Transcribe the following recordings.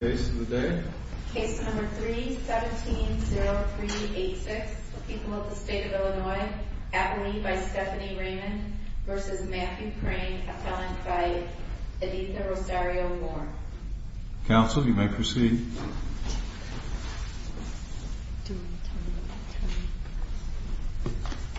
Case of the day. Case number 3-170386. People of the State of Illinois. Appellee by Stephanie Raymond v. Matthew Crane. Appellant by Editha Rosario Moore. Counsel, you may proceed.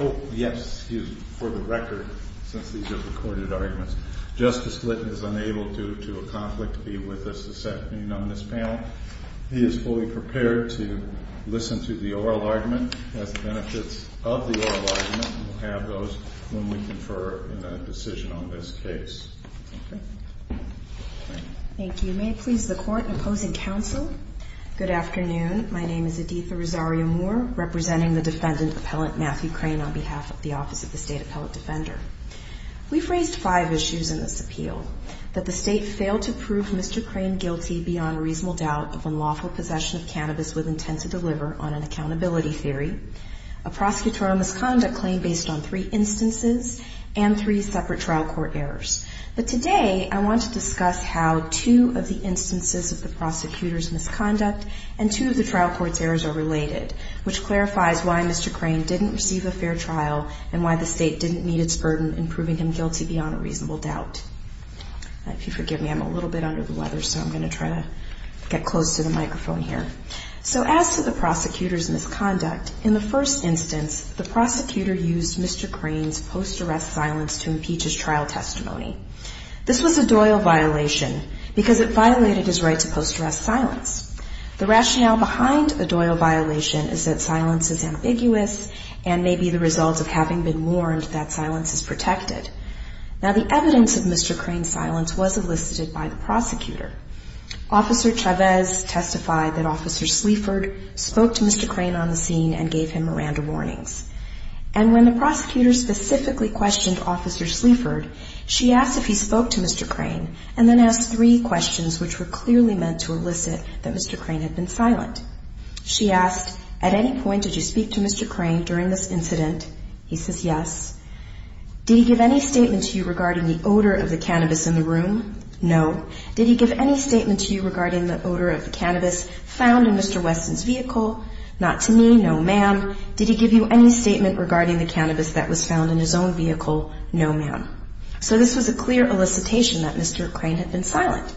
Oh, yes. Excuse me. For the record, since these are recorded arguments, Justice Litton is unable due to a conflict to be with us this afternoon on this panel. He is fully prepared to listen to the oral argument, has the benefits of the oral argument, and will have those when we confer in a decision on this case. Thank you. May it please the Court in opposing counsel? Good afternoon. My name is Editha Rosario Moore, representing the Defendant Appellant Matthew Crane on behalf of the Office of the State Appellant Defender. We've raised five issues in this appeal. That the State failed to prove Mr. Crane guilty beyond reasonable doubt of unlawful possession of cannabis with intent to deliver on an accountability theory, a prosecutorial misconduct claim based on three instances and three separate trial court errors. But today I want to discuss how two of the instances of the prosecutor's misconduct and two of the trial court's errors are related, which clarifies why Mr. Crane didn't receive a fair trial and why the State didn't meet its burden in proving him guilty beyond a reasonable doubt. If you forgive me, I'm a little bit under the weather, so I'm going to try to get close to the microphone here. So as to the prosecutor's misconduct, in the first instance, the prosecutor used Mr. Crane's post-arrest silence to impeach his trial testimony. This was a Doyle violation because it violated his right to post-arrest silence. The rationale behind a Doyle violation is that silence is ambiguous and may be the result of having been warned that silence is protected. Now the evidence of Mr. Crane's silence was elicited by the prosecutor. Officer Chavez testified that Officer Sleaford spoke to Mr. Crane on the scene and gave him Miranda warnings. And when the prosecutor specifically questioned Officer Sleaford, she asked if he spoke to Mr. Crane and then asked three questions which were clearly meant to elicit that Mr. Crane had been silent. She asked, at any point did you speak to Mr. Crane during this incident? He says yes. Did he give any statement to you regarding the odor of the cannabis in the room? No. Did he give any statement to you regarding the odor of the cannabis found in Mr. Weston's vehicle? Not to me, no ma'am. Did he give you any statement regarding the cannabis that was found in his own vehicle? No ma'am. So this was a clear elicitation that Mr. Crane had been silent.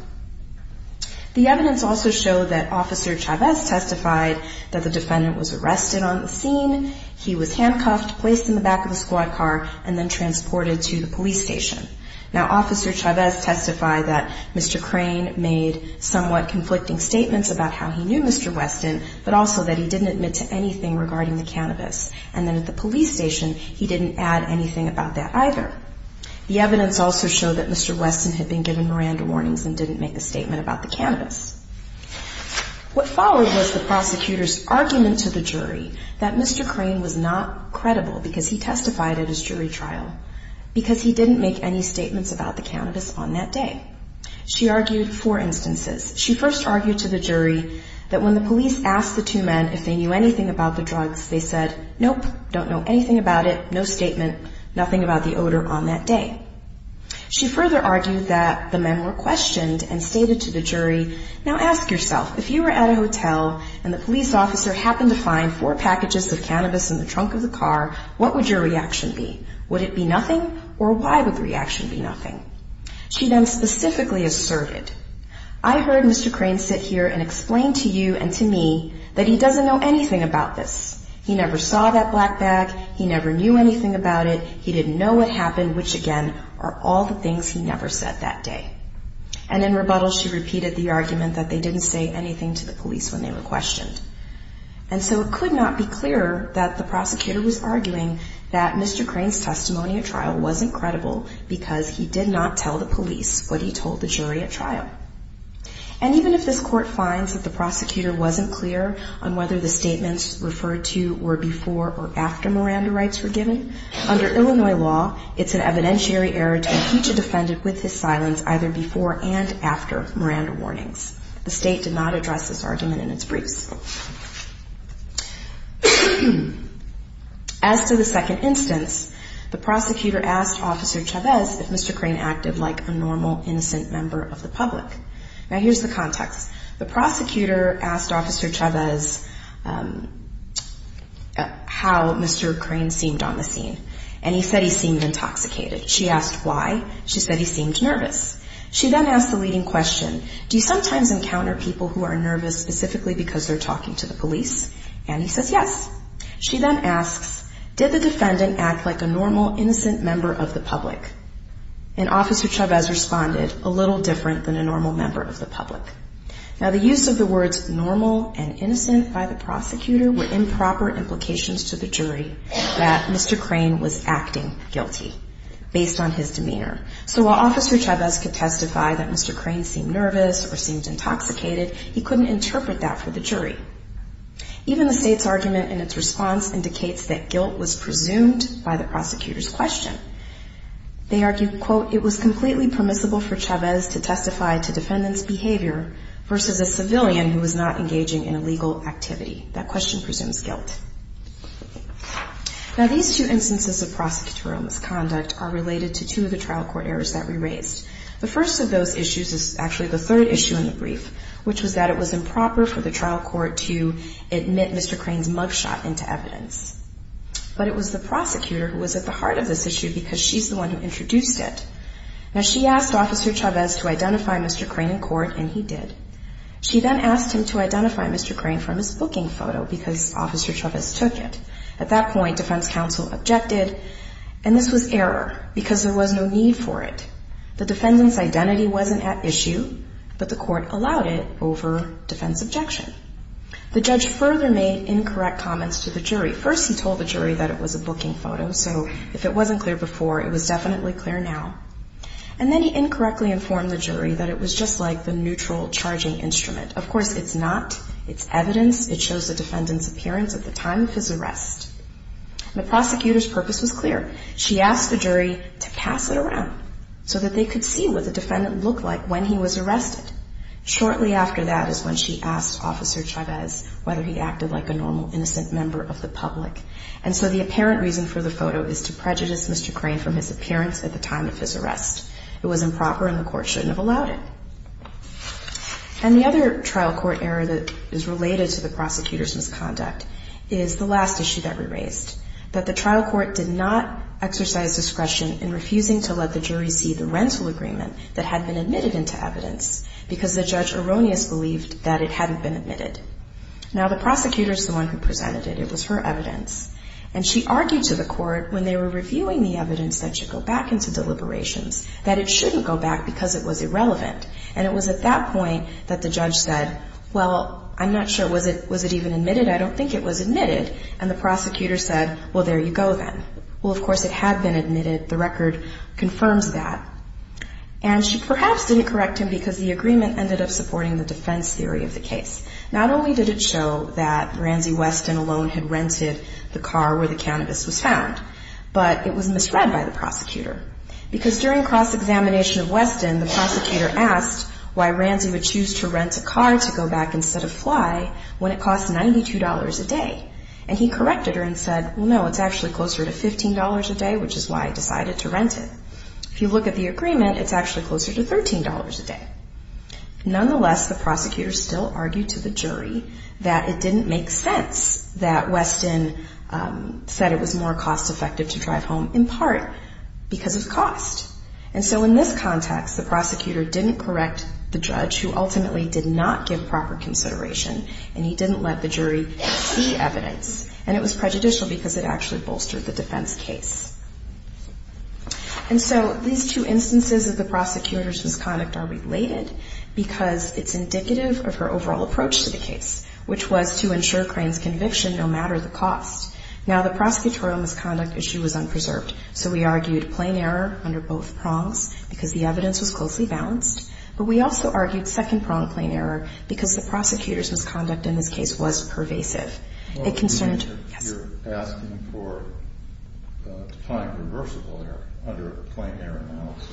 The evidence also showed that Officer Chavez testified that the defendant was arrested on the scene, he was handcuffed, placed in the back of a squad car, and then transported to the police station. Now, Officer Chavez testified that Mr. Crane made somewhat conflicting statements about how he knew Mr. Weston, but also that he didn't admit to anything regarding the cannabis. And then at the police station, he didn't add anything about that either. The evidence also showed that Mr. Weston had been given Miranda warnings and didn't make a statement about the cannabis. What followed was the prosecutor's argument to the jury that Mr. Crane was not credible because he testified at his jury trial, because he didn't make any statements about the cannabis on that day. She argued four instances. She first argued to the jury that when the police asked the two men if they knew anything about the drugs, they said, nope, don't know anything about it, no statement, nothing about the odor on that day. She further argued that the men were questioned and stated to the jury, Now ask yourself, if you were at a hotel and the police officer happened to find four packages of cannabis in the trunk of the car, what would your reaction be? Would it be nothing, or why would the reaction be nothing? She then specifically asserted, I heard Mr. Crane sit here and explain to you and to me that he doesn't know anything about this. He never saw that black bag. He never knew anything about it. He didn't know what happened, which, again, are all the things he never said that day. And in rebuttal, she repeated the argument that they didn't say anything to the police when they were questioned. And so it could not be clearer that the prosecutor was arguing that Mr. Crane's testimony at trial wasn't credible because he did not tell the police what he told the jury at trial. And even if this court finds that the prosecutor wasn't clear on whether the statements referred to were before or after Miranda rights were given, under Illinois law, it's an evidentiary error to impeach a defendant with his silence either before and after Miranda warnings. The state did not address this argument in its briefs. As to the second instance, the prosecutor asked Officer Chavez if Mr. Crane acted like a normal, innocent member of the public. Now, here's the context. The prosecutor asked Officer Chavez how Mr. Crane seemed on the scene, and he said he seemed intoxicated. She asked why. She said he seemed nervous. She then asked the leading question, do you sometimes encounter people who are nervous specifically because they're talking to the police? And he says yes. She then asks, did the defendant act like a normal, innocent member of the public? And Officer Chavez responded, a little different than a normal member of the public. Now, the use of the words normal and innocent by the prosecutor were improper implications to the jury that Mr. Crane was acting guilty based on his demeanor. So while Officer Chavez could testify that Mr. Crane seemed nervous or seemed intoxicated, he couldn't interpret that for the jury. Even the state's argument in its response indicates that guilt was presumed by the prosecutor's question. They argued, quote, it was completely permissible for Chavez to testify to defendant's behavior versus a civilian who was not engaging in illegal activity. That question presumes guilt. Now, these two instances of prosecutorial misconduct are related to two of the trial court errors that we raised. The first of those issues is actually the third issue in the brief, which was that it was improper for the trial court to admit Mr. Crane's mugshot into evidence. But it was the prosecutor who was at the heart of this issue because she's the one who introduced it. Now, she asked Officer Chavez to identify Mr. Crane in court, and he did. She then asked him to identify Mr. Crane from his booking photo because Officer Chavez took it. At that point, defense counsel objected, and this was error because there was no need for it. The defendant's identity wasn't at issue, but the court allowed it over defense objection. The judge further made incorrect comments to the jury. First, he told the jury that it was a booking photo, so if it wasn't clear before, it was definitely clear now. And then he incorrectly informed the jury that it was just like the neutral charging instrument. Of course, it's not. It's evidence. It shows the defendant's appearance at the time of his arrest. The prosecutor's purpose was clear. She asked the jury to pass it around so that they could see what the defendant looked like when he was arrested. Shortly after that is when she asked Officer Chavez whether he acted like a normal, innocent member of the public. And so the apparent reason for the photo is to prejudice Mr. Crane from his appearance at the time of his arrest. It was improper, and the court shouldn't have allowed it. And the other trial court error that is related to the prosecutor's misconduct is the last issue that we raised, that the trial court did not exercise discretion in refusing to let the jury see the rental agreement that had been admitted into evidence because the judge erroneously believed that it hadn't been admitted. Now, the prosecutor is the one who presented it. It was her evidence. And she argued to the court, when they were reviewing the evidence that should go back into deliberations, that it shouldn't go back because it was irrelevant. And it was at that point that the judge said, well, I'm not sure. Was it even admitted? I don't think it was admitted. And the prosecutor said, well, there you go then. Well, of course, it had been admitted. The record confirms that. Not only did it show that Ransy Weston alone had rented the car where the cannabis was found, but it was misread by the prosecutor because during cross-examination of Weston, the prosecutor asked why Ransy would choose to rent a car to go back instead of fly when it cost $92 a day. And he corrected her and said, well, no, it's actually closer to $15 a day, which is why I decided to rent it. If you look at the agreement, it's actually closer to $13 a day. Nonetheless, the prosecutor still argued to the jury that it didn't make sense that Weston said it was more cost-effective to drive home, in part because of cost. And so in this context, the prosecutor didn't correct the judge, who ultimately did not give proper consideration, and he didn't let the jury see evidence. And it was prejudicial because it actually bolstered the defense case. And so these two instances of the prosecutor's misconduct are related because it's indicative of her overall approach to the case, which was to ensure Crane's conviction no matter the cost. Now, the prosecutorial misconduct issue was unpreserved, so we argued plain error under both prongs because the evidence was closely balanced, but we also argued second-pronged plain error because the prosecutor's misconduct in this case was pervasive. You're asking for time-reversible error under a plain error analysis?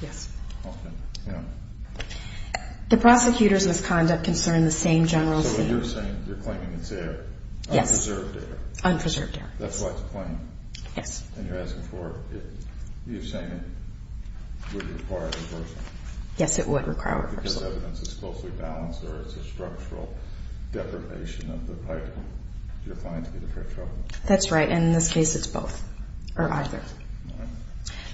Yes. Often? No. The prosecutor's misconduct concerned the same general scene. So you're claiming it's unpreserved error. Unpreserved error. That's why it's plain. Yes. And you're asking for it. You're saying it would require reversal. Yes, it would require reversal. That's right, and in this case, it's both or either.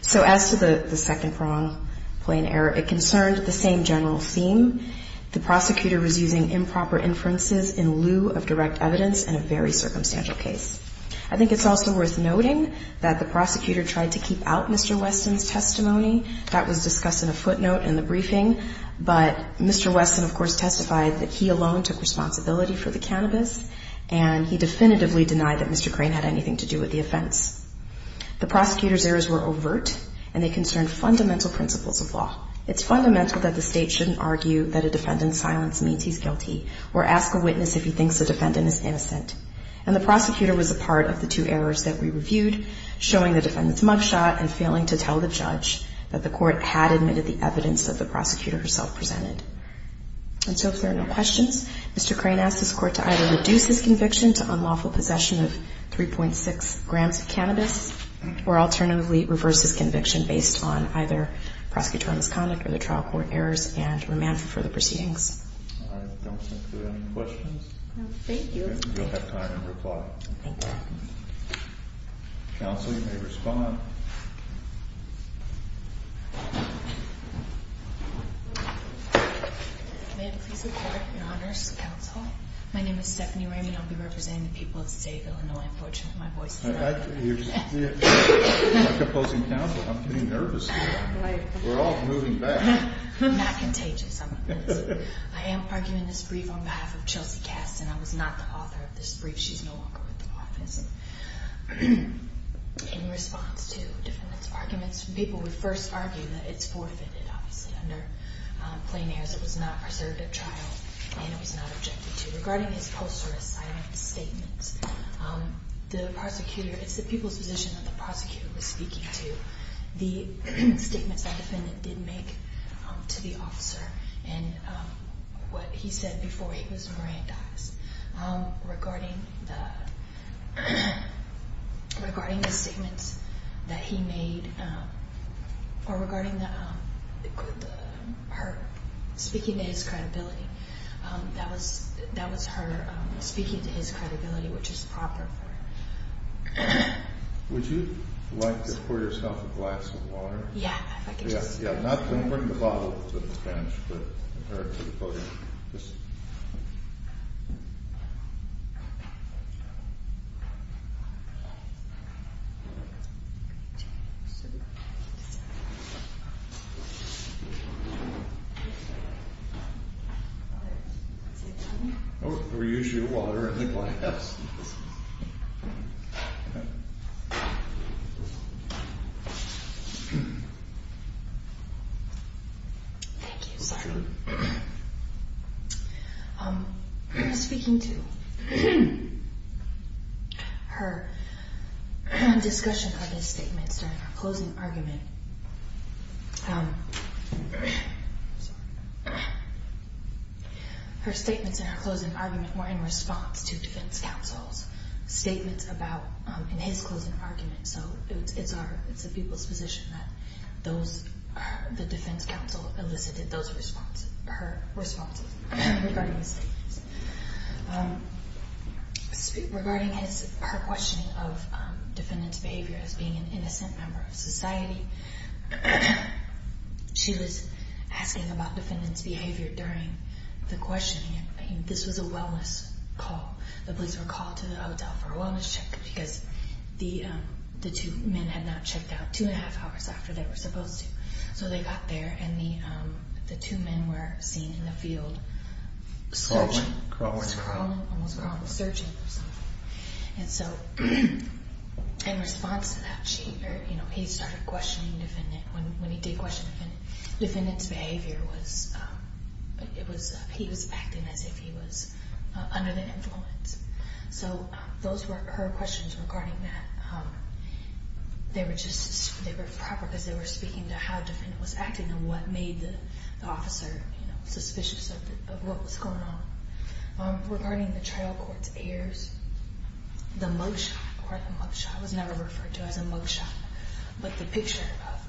So as to the second-pronged plain error, it concerned the same general scene. The prosecutor was using improper inferences in lieu of direct evidence in a very circumstantial case. I think it's also worth noting that the prosecutor tried to keep out Mr. Weston's testimony. That was discussed in a footnote in the briefing. But Mr. Weston, of course, testified that he alone took responsibility for the cannabis, and he definitively denied that Mr. Crane had anything to do with the offense. The prosecutor's errors were overt, and they concerned fundamental principles of law. It's fundamental that the state shouldn't argue that a defendant's silence means he's guilty or ask a witness if he thinks the defendant is innocent. And the prosecutor was a part of the two errors that we reviewed, showing the defendant's mugshot and failing to tell the judge that the court had admitted the evidence that the prosecutor herself presented. And so if there are no questions, Mr. Crane asked this Court to either reduce his conviction to unlawful possession of 3.6 grams of cannabis or alternatively reverse his conviction based on either prosecutorial misconduct or the trial court errors and remand for further proceedings. All right. I don't think there are any questions. No, thank you. And you'll have time to reply. Thank you. Counsel, you may respond. May I please report, Your Honors, Counsel? My name is Stephanie Ramey. I'll be representing the people of the state of Illinois. Unfortunately, my voice is loud. You're opposing counsel. I'm getting nervous here. We're all moving back. I'm not contagious. I am arguing this brief on behalf of Chelsea Kasten. I was not the author of this brief. She's no longer with the office. In response to defendants' arguments, people would first argue that it's forfeited, obviously, under plain airs. It was not preserved at trial, and it was not objected to. Regarding his posterous silent statements, it's the people's position that the prosecutor was speaking to. The statements that defendant did make to the officer and what he said before he was merandized. Regarding the statements that he made, or regarding her speaking to his credibility, that was her speaking to his credibility, which is proper. Would you like to pour yourself a glass of water? Yeah, if I could just. Yeah, not to bring the bottle to the bench, but for the podium. Oh, we use your water in the glass. Thank you. Thank you. I'm speaking to her discussion of his statements during her closing argument. Her statements in her closing argument were in response to defense counsel's statements about his closing argument. So it's the people's position that the defense counsel elicited her responses regarding his statements. Regarding her questioning of defendant's behavior as being an innocent member of society, she was asking about defendant's behavior during the questioning. This was a wellness call. The police were called to the hotel for a wellness check because the two men had not checked out two and a half hours after they were supposed to. So they got there, and the two men were seen in the field searching. Crawling. Almost crawling, searching. And so in response to that, he started questioning the defendant. When he did question the defendant, the defendant's behavior was, he was acting as if he was under the influence. So those were her questions regarding that. They were just, they were proper because they were speaking to how the defendant was acting and what made the officer suspicious of what was going on. Regarding the trial court's heirs, the mug shot, or the mug shot, it was never referred to as a mug shot, but the picture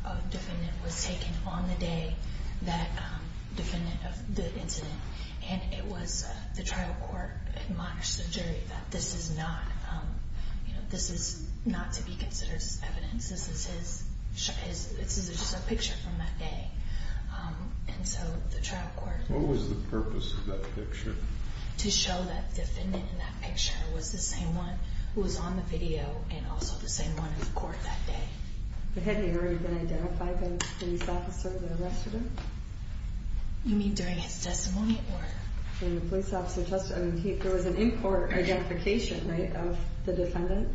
of the defendant was taken on the day of the incident. And it was, the trial court admonished the jury that this is not to be considered as evidence. This is his, this is just a picture from that day. And so the trial court. What was the purpose of that picture? To show that the defendant in that picture was the same one who was on the video and also the same one in court that day. But had he already been identified by the police officer that arrested him? You mean during his testimony, or? During the police officer testimony. There was an in-court identification, right, of the defendant?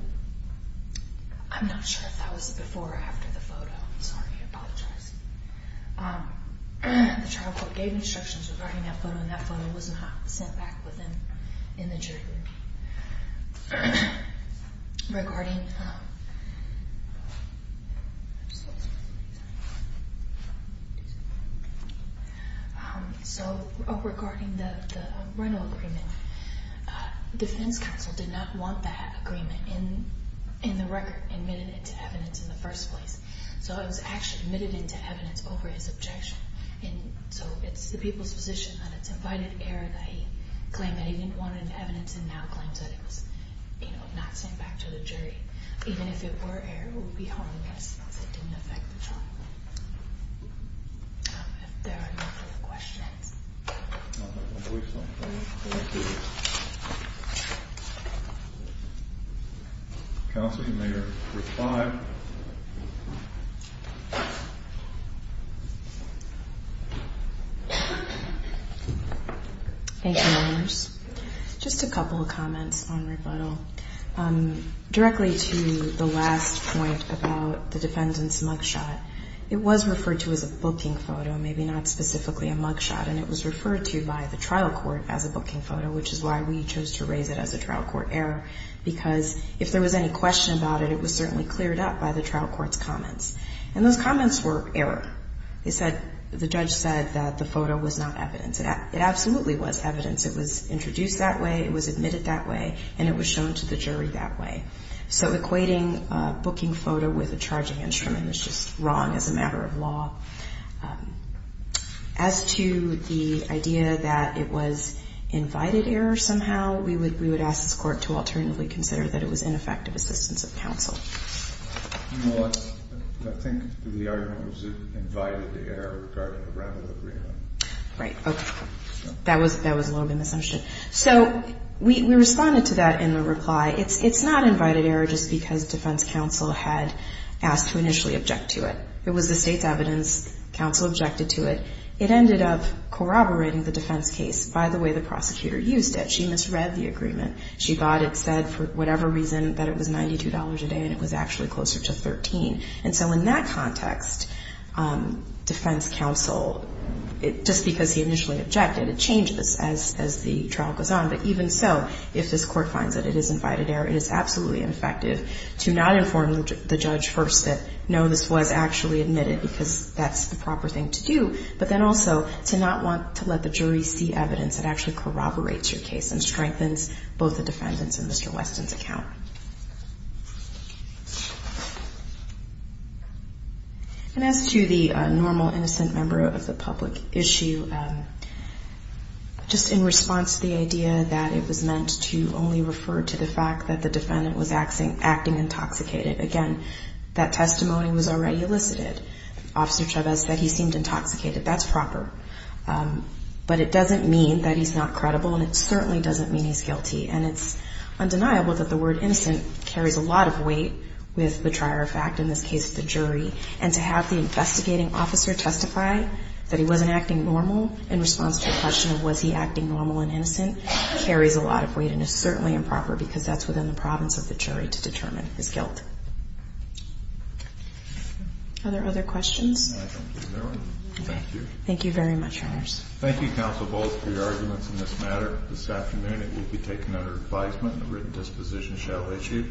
I'm not sure if that was before or after the photo. Sorry, I apologize. The trial court gave instructions regarding that photo, and that photo was not sent back within, in the jury room. Regarding, so regarding the rental agreement, defense counsel did not want that agreement in the record admitted into evidence in the first place. So it was actually admitted into evidence over his objection. And so it's the people's position that it's invited error that he claimed that he didn't want it in evidence and now claims that it was, you know, not sent back to the jury. Even if it were error, it would be harmless if it didn't affect the trial. If there are no further questions. I don't have my voice on. Counsel, you may respond. Thank you, Your Honors. Just a couple of comments on rebuttal. Directly to the last point about the defendant's mugshot, it was referred to as a booking photo, maybe not specifically a mugshot, and it was referred to by the trial court as a booking photo, which is why we chose to raise it as a trial court error, because if there was any question about it, it was certainly cleared up by the trial court's comments. And those comments were error. They said, the judge said that the photo was not evidence. It absolutely was evidence. It was introduced that way, it was admitted that way, and it was shown to the jury that way. So equating a booking photo with a charging instrument again was just wrong as a matter of law. As to the idea that it was invited error somehow, we would ask this court to alternatively consider that it was ineffective assistance of counsel. I think the argument was that it was invited error rather than agreement. Right. Okay. That was a little bit of an assumption. So we responded to that in the reply. It's not invited error just because defense counsel had asked to initially object to it. It was the state's evidence. Counsel objected to it. It ended up corroborating the defense case by the way the prosecutor used it. She misread the agreement. She thought it said, for whatever reason, that it was $92 a day, and it was actually closer to $13. And so in that context, defense counsel, just because he initially objected, it changes as the trial goes on. But even so, if this court finds that it is invited error, it is absolutely ineffective to not inform the judge first that, no, this was actually admitted because that's the proper thing to do, but then also to not want to let the jury see evidence that actually corroborates your case and strengthens both the defendant's and Mr. Weston's account. And as to the normal innocent member of the public issue, just in response to the idea that it was meant to only refer to the fact that the defendant was acting intoxicated, again, that testimony was already elicited. Officer Chavez said he seemed intoxicated. That's proper. But it doesn't mean that he's not credible, and it certainly doesn't mean he's guilty. And it's undeniable that the word innocent carries a lot of weight with the trier of fact, in this case, the jury. And to have the investigating officer testify that he wasn't acting normal in response to the question of was he acting normal and innocent carries a lot of weight and is certainly improper because that's within the province of the jury to determine his guilt. Are there other questions? No, I don't think there are. Thank you. Thank you very much, Your Honors. Thank you, Counsel Volz, for your arguments in this matter. This afternoon it will be taken under advisement and a written disposition shall issue.